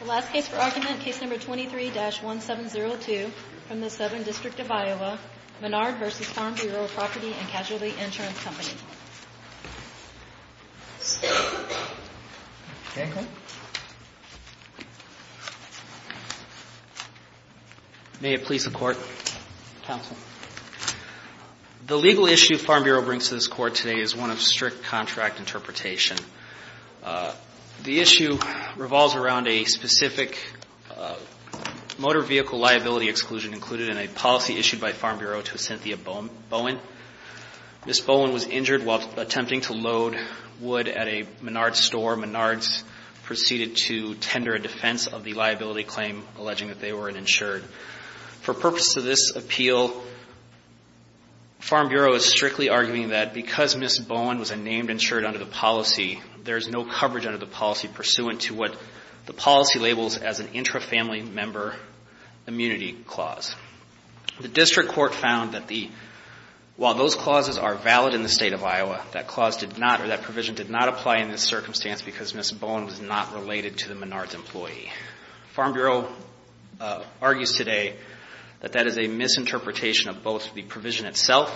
The last case for argument, Case No. 23-1702 from the Southern District of Iowa, Menard v. Farm Bureau Property & Casualty Insurance Company. May it please the Court. Counsel. The legal issue Farm Bureau brings to this Court today is one of strict contract interpretation. The issue revolves around a specific motor vehicle liability exclusion included in a policy issued by Farm Bureau to Cynthia Bowen. Ms. Bowen was injured while attempting to load wood at a Menard's store. Menard's proceeded to tender a defense of the liability claim, alleging that they weren't insured. For purpose of this appeal, Farm Bureau is strictly arguing that because Ms. Bowen was a named insured under the policy, there is no coverage under the policy pursuant to what the policy labels as an intra-family member immunity clause. The District Court found that while those clauses are valid in the State of Iowa, that provision did not apply in this circumstance because Ms. Bowen was not related to the Menard's employee. Farm Bureau argues today that that is a misinterpretation of both the provision itself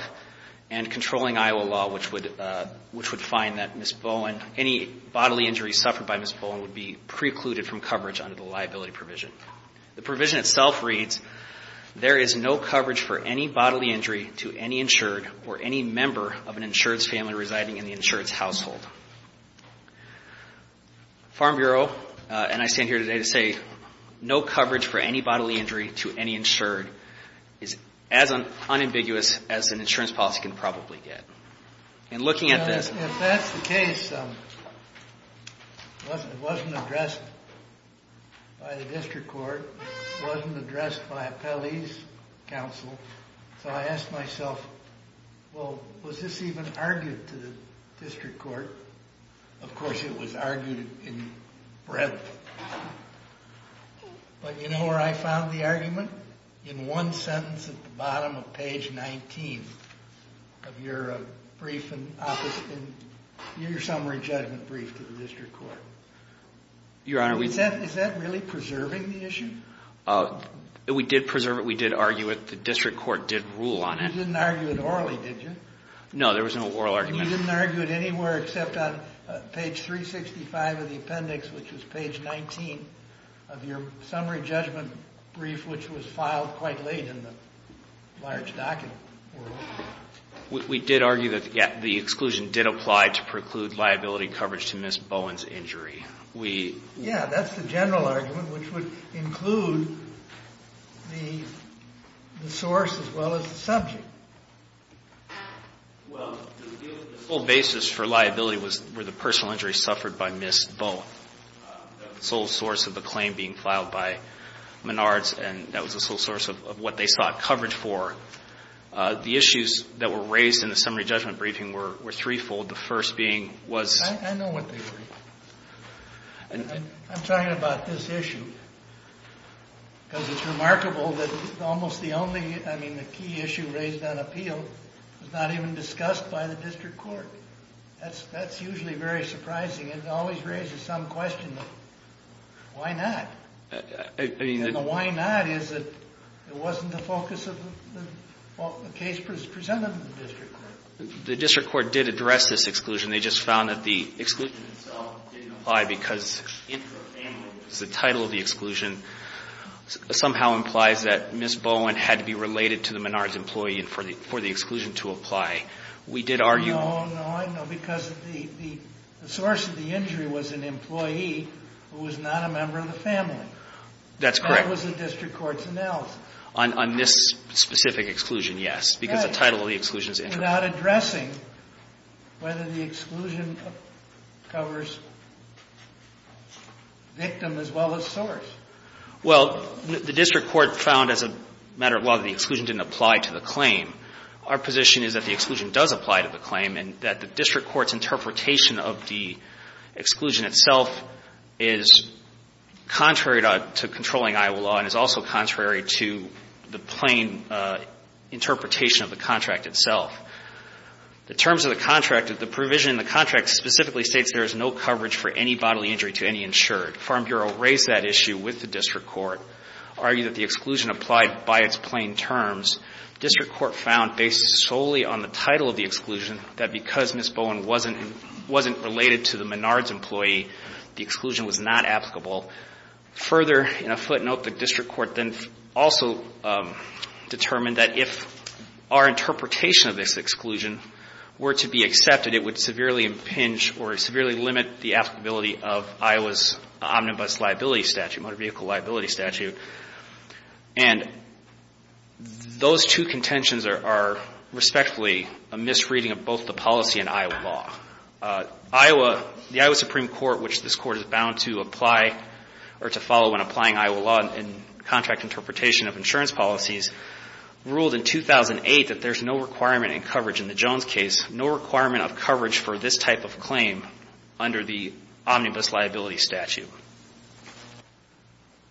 and controlling Iowa law, which would find that Ms. Bowen, any bodily injury suffered by Ms. Bowen, would be precluded from coverage under the liability provision. The provision itself reads, there is no coverage for any bodily injury to any insured or any member of an insured's family residing in the insured's household. Farm Bureau, and I stand here today to say, no coverage for any bodily injury to any insured is as unambiguous as an insurance policy can probably get. And looking at this... If that's the case, it wasn't addressed by the District Court. It wasn't addressed by Appellee's Counsel. So I asked myself, well, was this even argued to the District Court? Of course, it was argued in breadth. But you know where I found the argument? In one sentence at the bottom of page 19 of your brief in office, in your summary judgment brief to the District Court. Your Honor, we... Is that really preserving the issue? We did preserve it. We did argue it. The District Court did rule on it. You didn't argue it orally, did you? No, there was no oral argument. You didn't argue it anywhere except on page 365 of the appendix, which was page 19 of your summary judgment brief, which was filed quite late in the large document. We did argue that the exclusion did apply to preclude liability coverage to Miss Bowen's injury. Yeah, that's the general argument, which would include the source as well as the subject. Well, the sole basis for liability were the personal injuries suffered by Miss Bowen. That was the sole source of the claim being filed by Menards, and that was the sole source of what they sought coverage for. The issues that were raised in the summary judgment briefing were threefold, the first being was... I know what they were. I'm talking about this issue, because it's remarkable that almost the only, I mean, the key issue raised on appeal was not even discussed by the district court. That's usually very surprising. It always raises some question, why not? I mean... The why not is that it wasn't the focus of the case presented to the district court. The district court did address this exclusion. They just found that the exclusion itself didn't apply because the title of the exclusion somehow implies that Miss Bowen had to be related to the Menards employee for the exclusion to apply. We did argue... No, no, I know, because the source of the injury was an employee who was not a member of the family. That's correct. That was the district court's analysis. On this specific exclusion, yes, because the title of the exclusion is... Without addressing whether the exclusion covers victim as well as source. Well, the district court found as a matter of law that the exclusion didn't apply to the claim. Our position is that the exclusion does apply to the claim and that the district court's interpretation of the exclusion itself is contrary to controlling Iowa law and is also contrary to the plain interpretation of the contract itself. The terms of the contract, the provision in the contract specifically states there is no coverage for any bodily injury to any insured. Farm Bureau raised that issue with the district court, argued that the exclusion applied by its plain terms. District court found based solely on the title of the exclusion that because Miss Bowen wasn't related to the Menards employee, the exclusion was not applicable. Further, in a footnote, the district court then also determined that if our interpretation of this exclusion were to be accepted, it would severely impinge or severely limit the applicability of Iowa's omnibus liability statute, motor vehicle liability statute. And those two contentions are respectfully a misreading of both the policy and Iowa law. Iowa, the Iowa Supreme Court, which this court is bound to apply or to follow when applying Iowa law in contract interpretation of insurance policies, ruled in 2008 that there's no requirement in coverage in the Jones case, no requirement of coverage for this type of claim under the omnibus liability statute.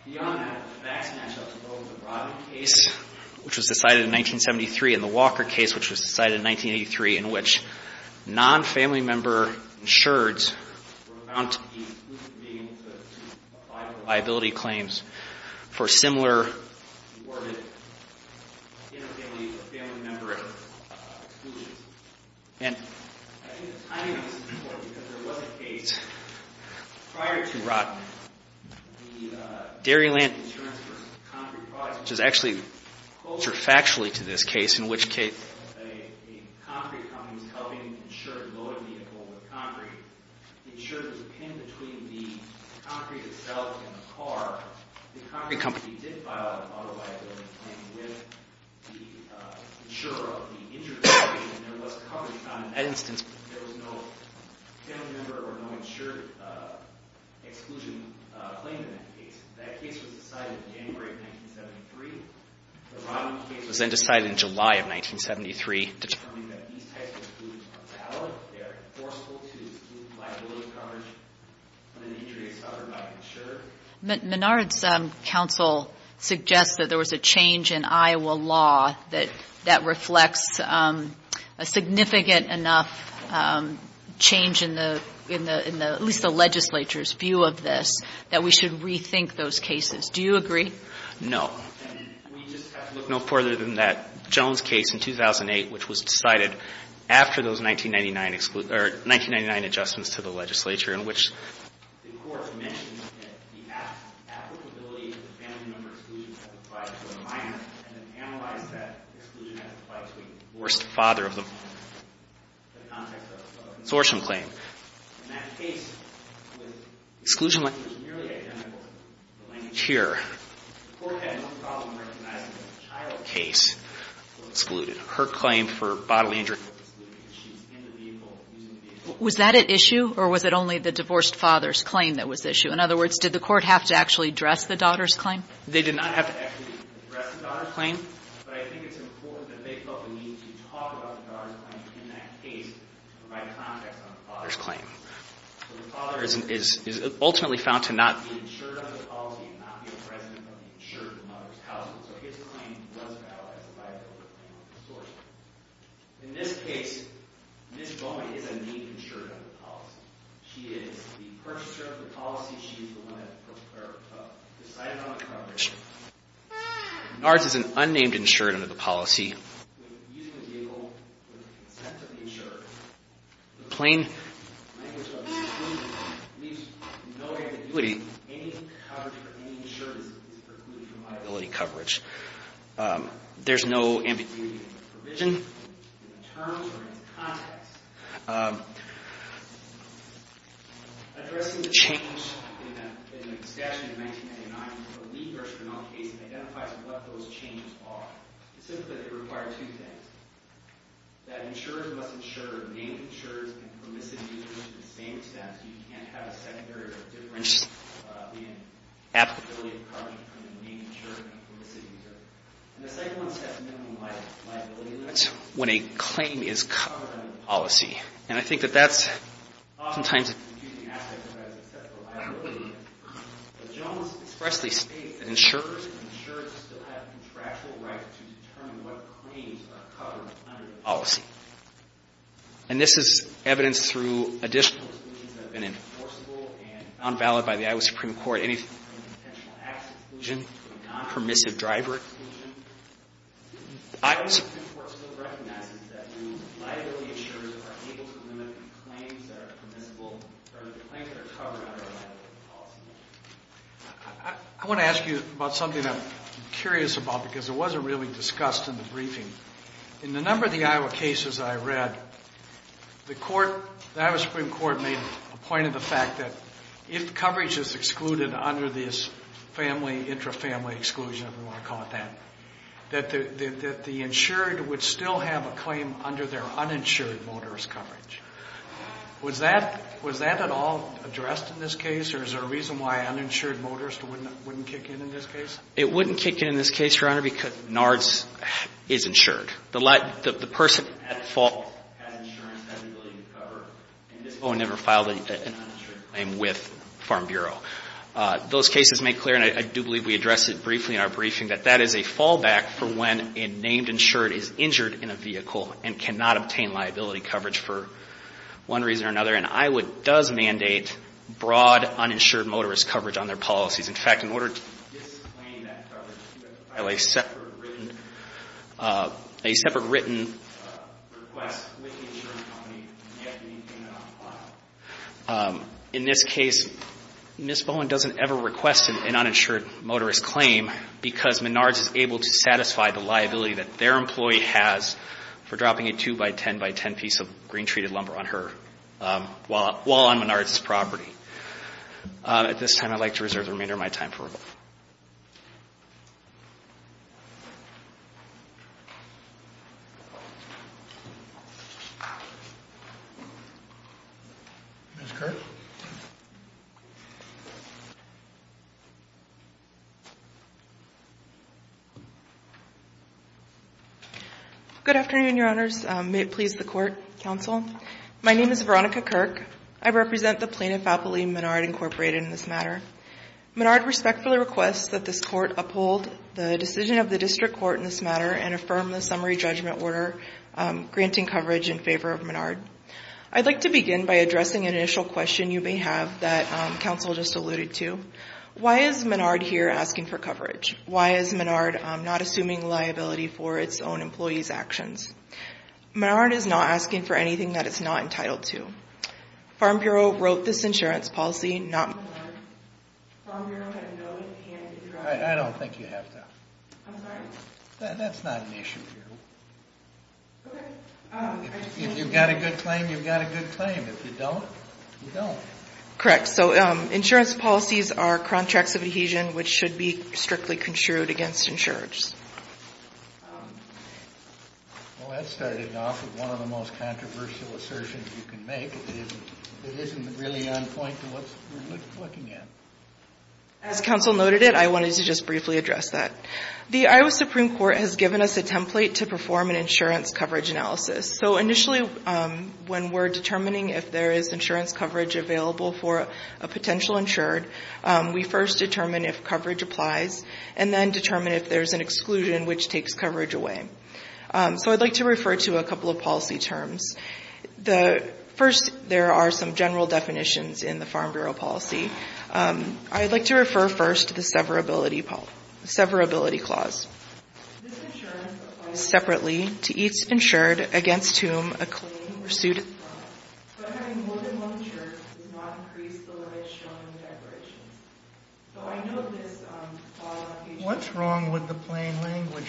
Beyond that, the facts match up to both the Rodney case, which was decided in 1973, and the Walker case, which was decided in 1983, in which non-family member insureds were bound to be excluded from being able to apply for liability claims for similar awarded family member exclusions. And I think the timing of this is important because there was a case prior to Rodney, the dairy land insurance for concrete products, which is actually closer factually to this case, in which case a concrete company was helping insure a loaded vehicle with concrete. The insurer was pinned between the concrete itself and the car. The concrete company did file an auto liability claim with the insurer of the injured vehicle, and there was coverage. On that instance, there was no family member or no insured exclusion claim in that case. That case was decided in January of 1973. The Rodney case was then decided in July of 1973, determining that these types of exclusions are valid, they are enforceable to exclude liability coverage of an injury suffered by an insurer. Minard's counsel suggests that there was a change in Iowa law that reflects a significant enough change in the, at least the legislature's view of this, that we should rethink those cases. Do you agree? No. We just have to look no further than that Jones case in 2008, which was decided after those 1999 adjustments to the legislature, in which the court mentioned that the applicability of the family member exclusion has applied to a minor, and analyzed that exclusion has applied to a divorced father of the mother in the context of a consortium claim. In that case, the exclusion was nearly identical. Here. The court had no problem recognizing that the child case was excluded. Her claim for bodily injury was excluded because she was in the vehicle using the vehicle. Was that at issue, or was it only the divorced father's claim that was at issue? In other words, did the court have to actually address the daughter's claim? They did not have to actually address the daughter's claim, but I think it's important that they felt the need to talk about the daughter's claim in that case, to provide context on the father's claim. The father is ultimately found to not be insured under the policy, and not be a president of the insured mother's household. So his claim was valid as a liability claim on the consortium. In this case, Ms. Bowman is a need insurer under the policy. She is the purchaser of the policy. She is the one that decided on the coverage. NARS is an unnamed insurer under the policy. When using a vehicle with the consent of the insurer, the plain language about exclusion leaves no ambiguity. Any coverage for any insurer is precluded from liability coverage. There's no ambiguity in the provision, in the terms, or in its context. Addressing the change in a statute in 1999 is a lead version of the case, and identifies what those changes are. It's simply that they require two things. That insurers must insure named insurers and permissive users at the same time, so you can't have a secondary difference being applicability of coverage from the named insurer and permissive user. And the second one says minimum liability limits when a claim is covered under the policy. And I think that that's oftentimes a confusing aspect when it has to do with liability limits. But Jones expressly states that insurers and insurers still have contractual rights to determine what claims are covered under the policy. And this is evidenced through additional exclusions that have been enforceable and found valid by the Iowa Supreme Court. Is there any potential acts exclusion, non-permissive driver exclusion? The Iowa Supreme Court still recognizes that new liability insurers are able to limit the claims that are permissible or the claims that are covered under the policy. I want to ask you about something I'm curious about because it wasn't really discussed in the briefing. In the number of the Iowa cases I read, the court, the Iowa Supreme Court made a point of the fact that if coverage is excluded under this family, intra-family exclusion, if you want to call it that, that the insured would still have a claim under their uninsured motorist coverage. Was that at all addressed in this case? Or is there a reason why uninsured motorists wouldn't kick in in this case? It wouldn't kick in in this case, Your Honor, because NARDS is insured. The person at fault has insurance that he's willing to cover. And this boy never filed an uninsured claim with Farm Bureau. Those cases make clear, and I do believe we addressed it briefly in our briefing, that that is a fallback for when a named insured is injured in a vehicle and cannot obtain liability coverage for one reason or another. And Iowa does mandate broad uninsured motorist coverage on their policies. In fact, in order to disclaim that coverage, you have to file a separate written request with the insurance company, and you have to obtain that on file. In this case, Ms. Bowen doesn't ever request an uninsured motorist claim because Menards is able to satisfy the liability that their employee has for dropping a 2x10x10 piece of green treated lumber on her while on Menards' property. At this time, I'd like to reserve the remainder of my time for rebuttal. Ms. Kirk? Good afternoon, Your Honors. May it please the Court, counsel. My name is Veronica Kirk. I represent the plaintiff, Appeline Menard, Incorporated, in this matter. Menard respectfully requests that this Court uphold the decision of the District Court in this matter and affirm the summary judgment order granting coverage in favor of Menard. I'd like to begin by addressing an initial question you may have that counsel just alluded to. Why is Menard here asking for coverage? Why is Menard not assuming liability for its own employee's actions? Menard is not asking for anything that it's not entitled to. Farm Bureau wrote this insurance policy, not Menard. Farm Bureau had no hand in dropping it. I don't think you have to. I'm sorry? That's not an issue here. Okay. If you've got a good claim, you've got a good claim. If you don't, you don't. Correct. So insurance policies are contracts of adhesion which should be strictly construed against insurers. Well, that started off with one of the most controversial assertions you can make. It isn't really on point to what we're looking at. As counsel noted it, I wanted to just briefly address that. The Iowa Supreme Court has given us a template to perform an insurance coverage analysis. So initially, when we're determining if there is insurance coverage available for a potential insured, we first determine if coverage applies and then determine if there's an exclusion which takes coverage away. So I'd like to refer to a couple of policy terms. First, there are some general definitions in the Farm Bureau policy. I'd like to refer first to the severability clause. This insurance applies separately to each insured against whom a claim or suit is filed. So having more than one insurer does not increase the lives shown in declarations. What's wrong with the plain language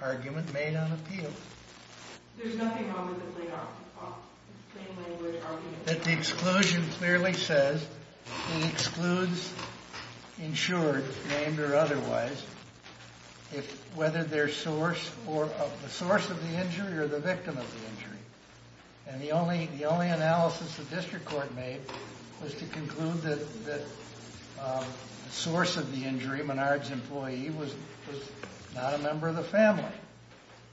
argument made on appeal? There's nothing wrong with the plain language argument. That the exclusion clearly says it excludes insured, named or otherwise, whether they're the source of the injury or the victim of the injury. The only analysis the district court made was to conclude that the source of the injury, Menard's employee, was not a member of the family.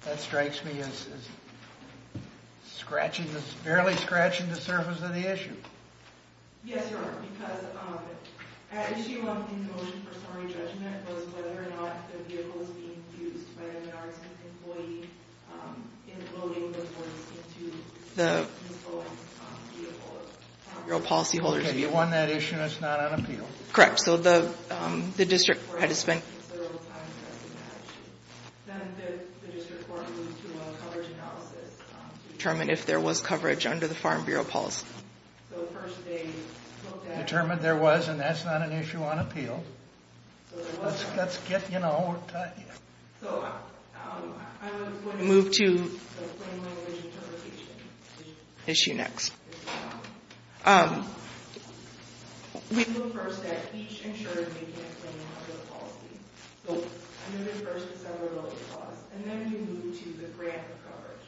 That strikes me as barely scratching the surface of the issue. Yes, Your Honor, because an issue in motion for summary judgment was whether or not the vehicle was being used by the Menard's employee in loading the horse into the principal vehicle. Have you won that issue and it's not on appeal? Correct. So the district court had to spend... Then the district court went through a coverage analysis to determine if there was coverage under the Farm Bureau policy. So first they looked at... Determined there was and that's not an issue on appeal. Let's get, you know... So I was wondering... Move to... The plain language interpretation issue. Issue next. We looked first at each insured making a claim under the policy. So under the first is severability clause. And then you move to the grant of coverage.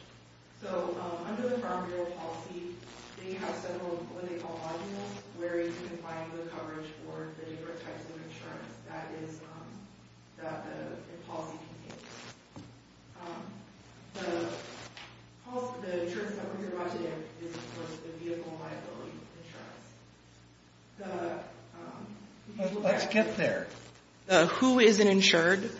So under the Farm Bureau policy, they have several of what they call modules where you can find the coverage for the different types of insurance. That is the policy. The insurance that we're talking about today is, of course, the vehicle liability insurance. Let's get there. Who is an insured?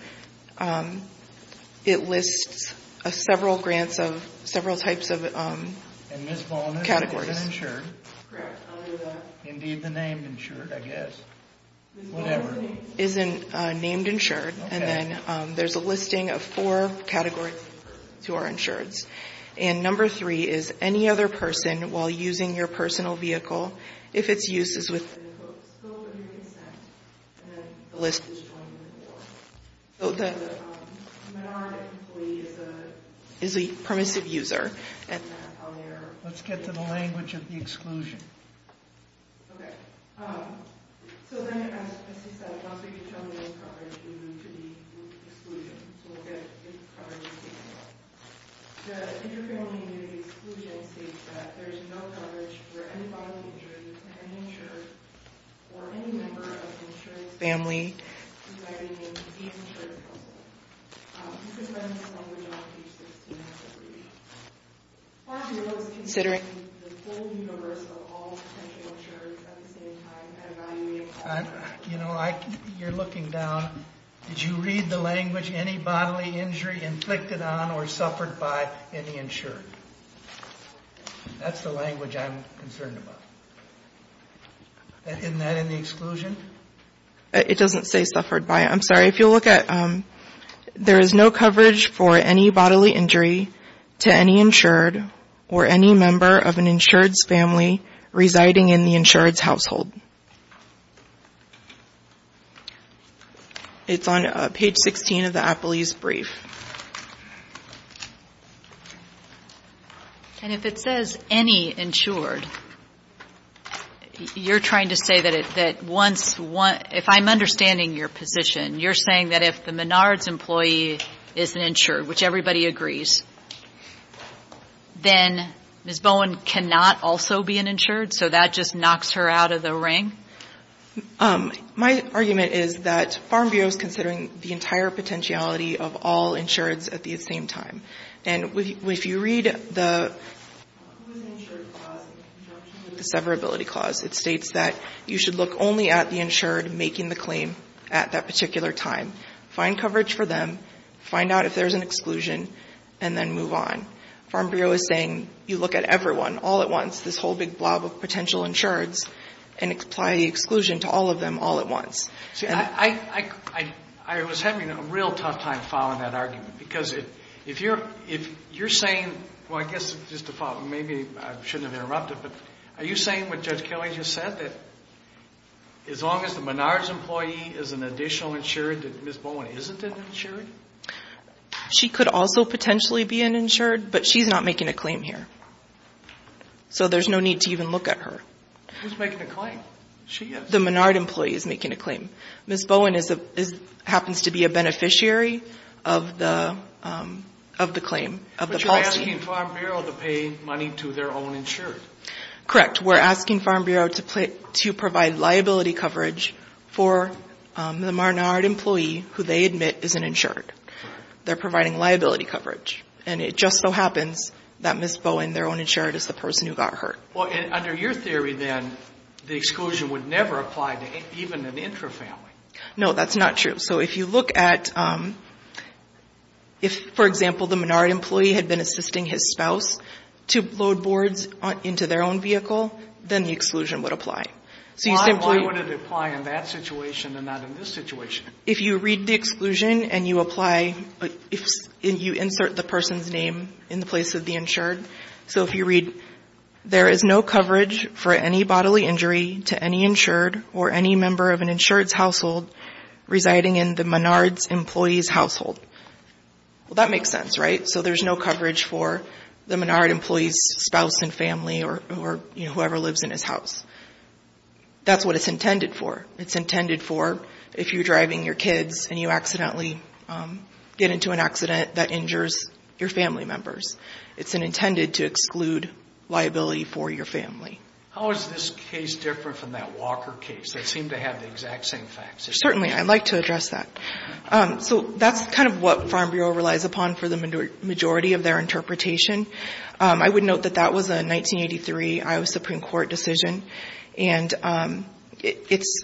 It lists several grants of several types of categories. And Ms. Ball, who is an insured? Correct. Indeed the name insured, I guess. Whatever. Ms. Ball isn't named insured. Okay. And then there's a listing of four categories of persons who are insured. And number three is any other person while using your personal vehicle, if its use is within the scope of your consent, then the list is joined with four. So the minority employee is a permissive user. Let's get to the language of the exclusion. Okay. So then, as he said, once we get to the coverage, we move to the exclusion. So we'll get coverage. The Inter-Family Community Exclusion states that there is no coverage for any body of insurance to any insured or any member of the insurance family who might be named the insured person. This is the language on page 16 of the review. It looks to consider the whole universe of all potential insurers at the same time and evaluate that. You know, you're looking down. Did you read the language, any bodily injury inflicted on or suffered by any insured? That's the language I'm concerned about. Isn't that in the exclusion? It doesn't say suffered by. I'm sorry. If you look at, there is no coverage for any bodily injury to any insured or any member of an insured's family residing in the insured's household. It's on page 16 of the APLE's brief. And if it says any insured, you're trying to say that once, if I'm understanding your position, you're saying that if the Menard's employee is an insured, which everybody agrees, then Ms. Bowen cannot also be an insured, so that just knocks her out of the ring? My argument is that Farm Bureau is considering the entire potentiality of all insureds at the same time. And if you read the insured clause in conjunction with the severability clause, it states that you should look only at the insured making the claim at that particular time, find coverage for them, find out if there's an exclusion, and then move on. Farm Bureau is saying you look at everyone all at once, this whole big blob of potential insureds, and apply the exclusion to all of them all at once. See, I was having a real tough time following that argument because if you're saying, well, I guess just to follow, maybe I shouldn't have interrupted, but are you saying what Judge Kelly just said, that as long as the Menard's employee is an additional insured, that Ms. Bowen isn't an insured? She could also potentially be an insured, but she's not making a claim here. So there's no need to even look at her. She's making a claim. She is. The Menard employee is making a claim. Ms. Bowen happens to be a beneficiary of the claim, of the policy. We're asking Farm Bureau to pay money to their own insured. Correct. We're asking Farm Bureau to provide liability coverage for the Menard employee, who they admit isn't insured. They're providing liability coverage. And it just so happens that Ms. Bowen, their own insured, is the person who got hurt. Well, under your theory then, the exclusion would never apply to even an intrafamily. No, that's not true. So if you look at, if, for example, the Menard employee had been assisting his spouse to load boards into their own vehicle, then the exclusion would apply. Why would it apply in that situation and not in this situation? If you read the exclusion and you apply, you insert the person's name in the place of the insured. So if you read, there is no coverage for any bodily injury to any insured or any member of an insured's household residing in the Menard's employee's household. Well, that makes sense, right? So there's no coverage for the Menard employee's spouse and family or whoever lives in his house. That's what it's intended for. It's intended for if you're driving your kids and you accidentally get into an accident that injures your family members. It's intended to exclude liability for your family. How is this case different from that Walker case? They seem to have the exact same facts. Certainly. I'd like to address that. So that's kind of what Farm Bureau relies upon for the majority of their interpretation. I would note that that was a 1983 Iowa Supreme Court decision. And it's,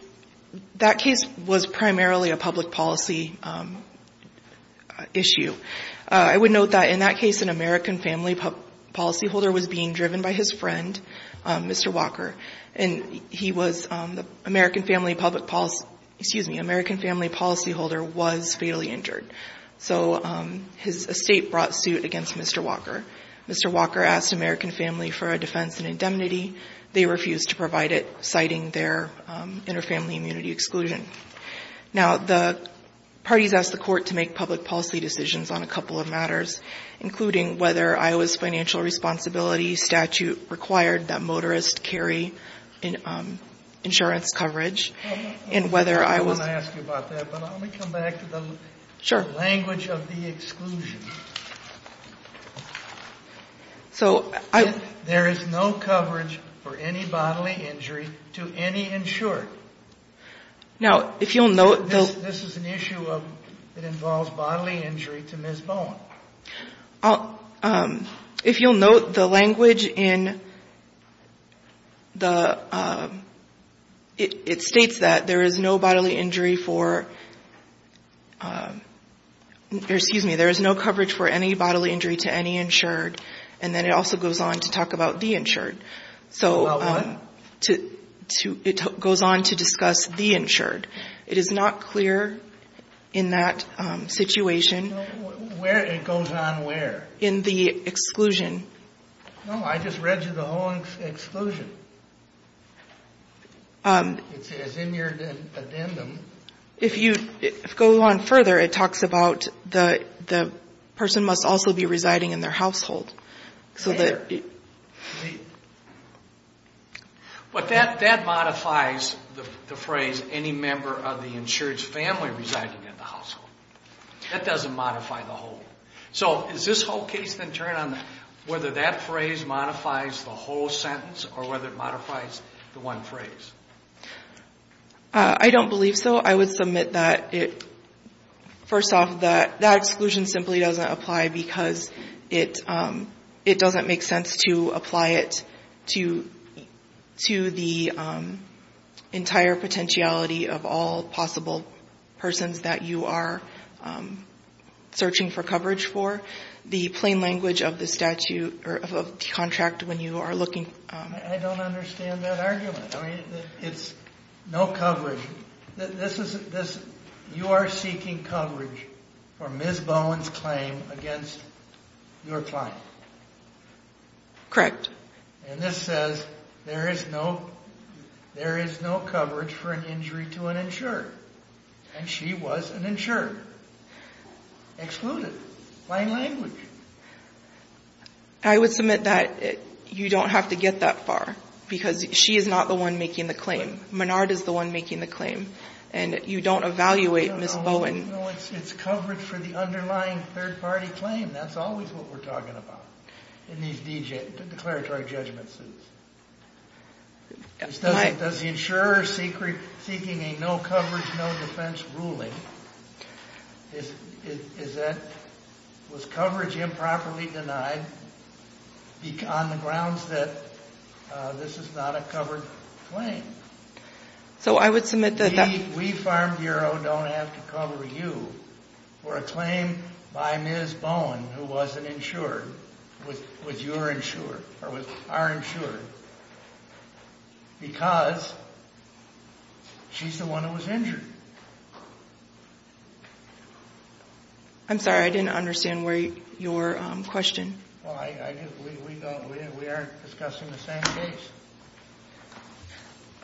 that case was primarily a public policy issue. I would note that in that case, an American family policyholder was being driven by his friend, Mr. Walker. And he was the American family public policy, excuse me, American family policyholder was fatally injured. So his estate brought suit against Mr. Walker. Mr. Walker asked American family for a defense and indemnity. They refused to provide it, citing their inter-family immunity exclusion. Now, the parties asked the court to make public policy decisions on a couple of matters, including whether Iowa's financial responsibility statute required that motorists carry insurance coverage, and whether Iowa's ---- I want to ask you about that, but let me come back to the language of the exclusion. So I ---- There is no coverage for any bodily injury to any insured. Now, if you'll note the ---- This is an issue that involves bodily injury to Ms. Bowen. If you'll note the language in the, it states that there is no bodily injury for, or excuse me, there is no coverage for any bodily injury to any insured. And then it also goes on to talk about the insured. So ---- About what? It goes on to discuss the insured. It is not clear in that situation ---- Where it goes on where? In the exclusion. No, I just read you the whole exclusion. It's in your addendum. If you go on further, it talks about the person must also be residing in their household. So that ---- But that modifies the phrase, any member of the insured's family residing in the household. That doesn't modify the whole. So does this whole case then turn on whether that phrase modifies the whole sentence or whether it modifies the one phrase? I don't believe so. I would submit that it, first off, that exclusion simply doesn't apply because it doesn't make sense to apply it to the entire potentiality of all possible persons that you are searching for coverage for. The plain language of the statute or of the contract when you are looking ---- I don't understand that argument. I mean, it's no coverage. You are seeking coverage for Ms. Bowen's claim against your client. Correct. And this says there is no coverage for an injury to an insured, and she was an insured. Excluded. Plain language. I would submit that you don't have to get that far because she is not the one making the claim. Menard is the one making the claim, and you don't evaluate Ms. Bowen. No, it's coverage for the underlying third-party claim. That's always what we're talking about in these declaratory judgment suits. Why? Does the insurer seeking a no-coverage, no-defense ruling, is that was coverage improperly denied on the grounds that this is not a covered claim? So I would submit that that ---- We, Farm Bureau, don't have to cover you for a claim by Ms. Bowen who wasn't insured, with your insurer, or with our insurer, because she's the one who was injured. I'm sorry, I didn't understand your question. Well, we aren't discussing the same case.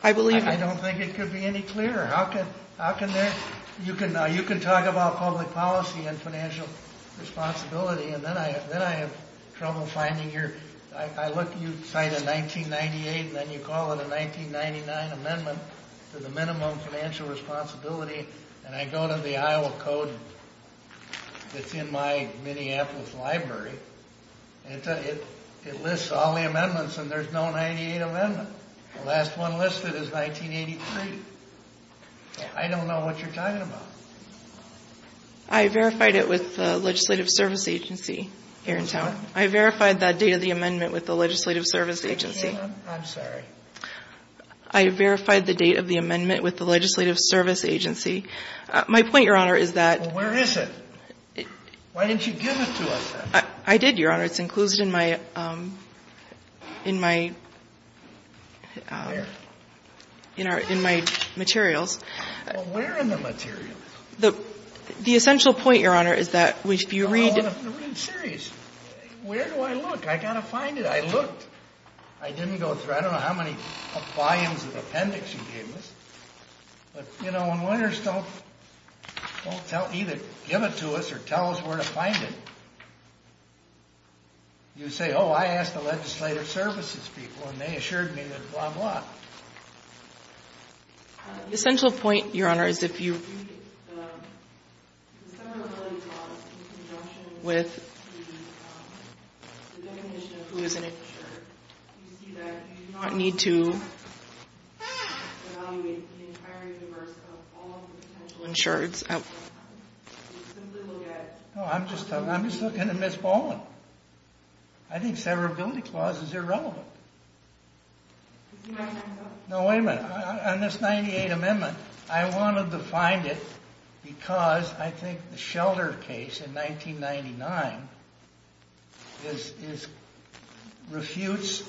I believe you. I don't think it could be any clearer. You can talk about public policy and financial responsibility, and then I have trouble finding your ---- You cite a 1998, and then you call it a 1999 amendment to the minimum financial responsibility, and I go to the Iowa Code that's in my Minneapolis library, and it lists all the amendments, and there's no 1998 amendment. The last one listed is 1983. I don't know what you're talking about. I verified it with the Legislative Service Agency here in town. What? I verified that date of the amendment with the Legislative Service Agency. I'm sorry. I verified the date of the amendment with the Legislative Service Agency. My point, Your Honor, is that ---- Well, where is it? Why didn't you give it to us then? I did, Your Honor. It's included in my materials. Well, where in the materials? The essential point, Your Honor, is that if you read ---- I'm serious. Where do I look? I've got to find it. I looked. I didn't go through. I don't know how many volumes of appendix you gave us. But, you know, when lawyers don't either give it to us or tell us where to find it, you say, oh, I asked the Legislative Services people, and they assured me that blah, blah. The essential point, Your Honor, is if you read it, in conjunction with the definition of who is an insured, you see that you do not need to evaluate the entire universe of all the potential insureds. You simply look at ---- No, I'm just looking at Ms. Baldwin. I think the severability clause is irrelevant. No, wait a minute. On this 98 amendment, I wanted to find it because I think the Shelder case in 1999 refutes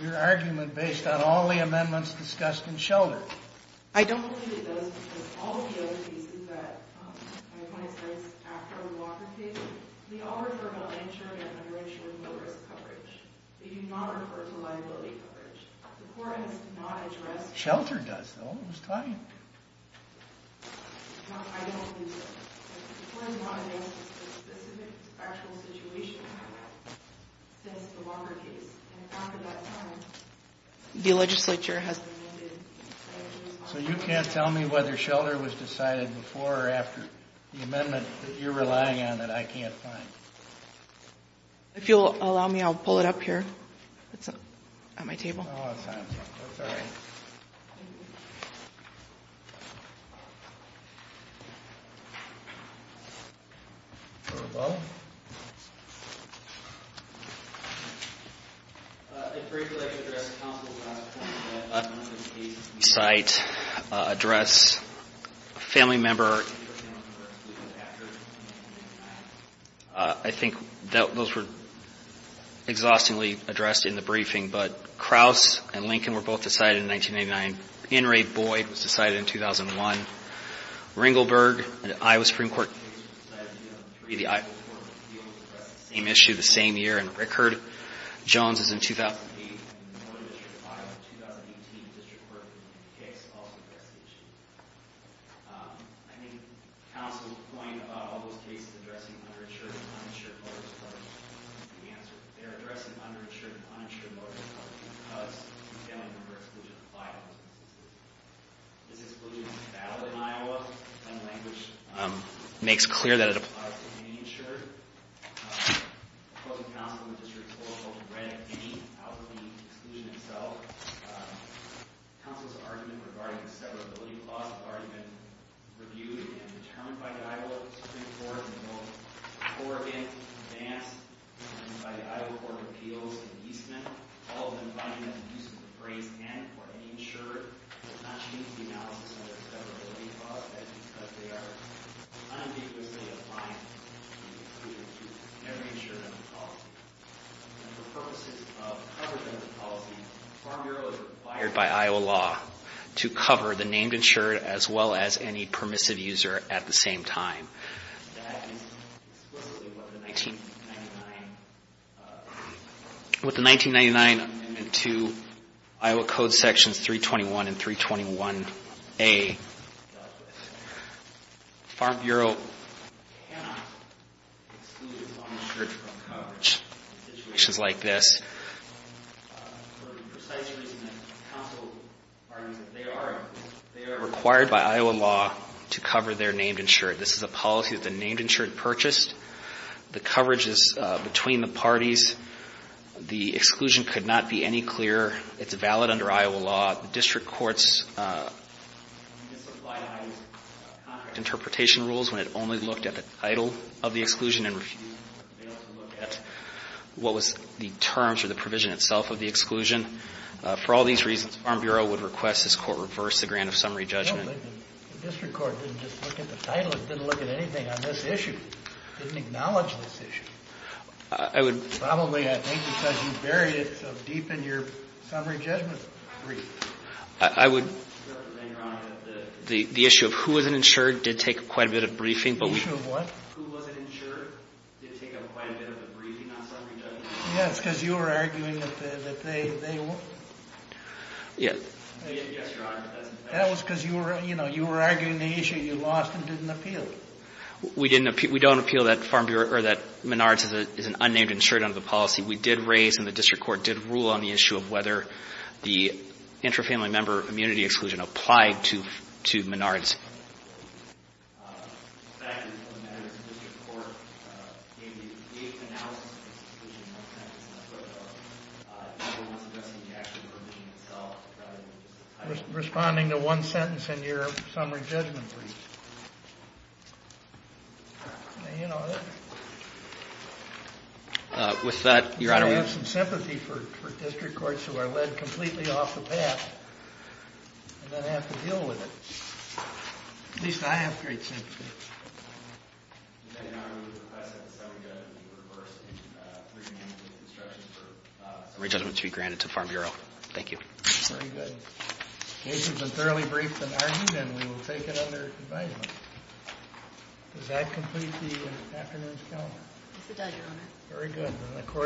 your argument based on all the amendments discussed in Shelder. I don't believe it does because all of the other pieces that my client states after the Walker case, they all refer to uninsured and underinsured low-risk coverage. They do not refer to liability coverage. The court has not addressed ---- Shelder does, though. Who's talking? I don't think so. The court has not addressed the specific factual situation since the Walker case. And after that time, the legislature has ---- So you can't tell me whether Shelder was decided before or after the amendment that you're relying on that I can't find? If you'll allow me, I'll pull it up here. It's on my table. Oh, it's fine. It's all right. Thank you. Mr. Lebeau? I'd greatly like to address counsel's last point that the case in the site addressed a family member. I think those were exhaustingly addressed in the briefing, but Kraus and Lincoln were both decided in 1989. Henry Boyd was decided in 2001. Ringelberg, an Iowa Supreme Court case was decided in 2003. The Iowa Supreme Court was able to address the same issue the same year. And Rickard-Jones is in 2008. I think counsel's point about all those cases addressing underinsured and uninsured voters is part of the answer. They're addressing underinsured and uninsured voters because the family member exclusion applied to them. This exclusion is valid in Iowa. The language makes clear that it applies to any insured. I quote the counsel in the district court. He read any out of the exclusion itself. Counsel's argument regarding the severability clause has already been reviewed and determined by the Iowa Supreme Court. It will pour in advance by the Iowa Court of Appeals and Eastman. All of them find that the use of the phrase and for any insured does not change the analysis of the severability clause because they are unequivocally applying to every insured under the policy. And for purposes of covered under the policy, it's primarily required by Iowa law to cover the named insured as well as any permissive user at the same time. That is explicitly what the 1999 amendment to Iowa Code Sections 321 and 321A dealt with. Farm Bureau cannot exclude its uninsured from coverage in situations like this. For the precise reason that counsel argues that they are, they are required by Iowa law to cover their named insured. This is a policy that the named insured purchased. The coverage is between the parties. The exclusion could not be any clearer. It's valid under Iowa law. The district court's misapplied concrete interpretation rules when it only looked at the title of the exclusion and refused to look at what was the terms or the provision itself of the exclusion. For all these reasons, Farm Bureau would request this Court reverse the grant of summary judgment. The district court didn't just look at the title. It didn't look at anything on this issue. It didn't acknowledge this issue. I would. Probably, I think, because you buried it so deep in your summary judgment brief. I would. Your Honor, the issue of who was an insured did take quite a bit of briefing. The issue of what? Who was an insured did take up quite a bit of the briefing on summary judgment. Yes, because you were arguing that they were. Yes. Yes, Your Honor. That was because you were arguing the issue. You lost and didn't appeal. We don't appeal that Menards is an unnamed insured under the policy. We did raise and the district court did rule on the issue of whether the intrafamily member immunity exclusion applied to Menards. Responding to one sentence in your summary judgment brief. With that, Your Honor, we have some sympathy for district courts who are led completely off the path and then have to deal with it. At least I have great sympathy. Summary judgments be granted to the Farm Bureau. Thank you. Very good. The case has been thoroughly briefed and argued and we will take it under advisement. Does that complete the afternoon's calendar? Yes, it does, Your Honor. Very good.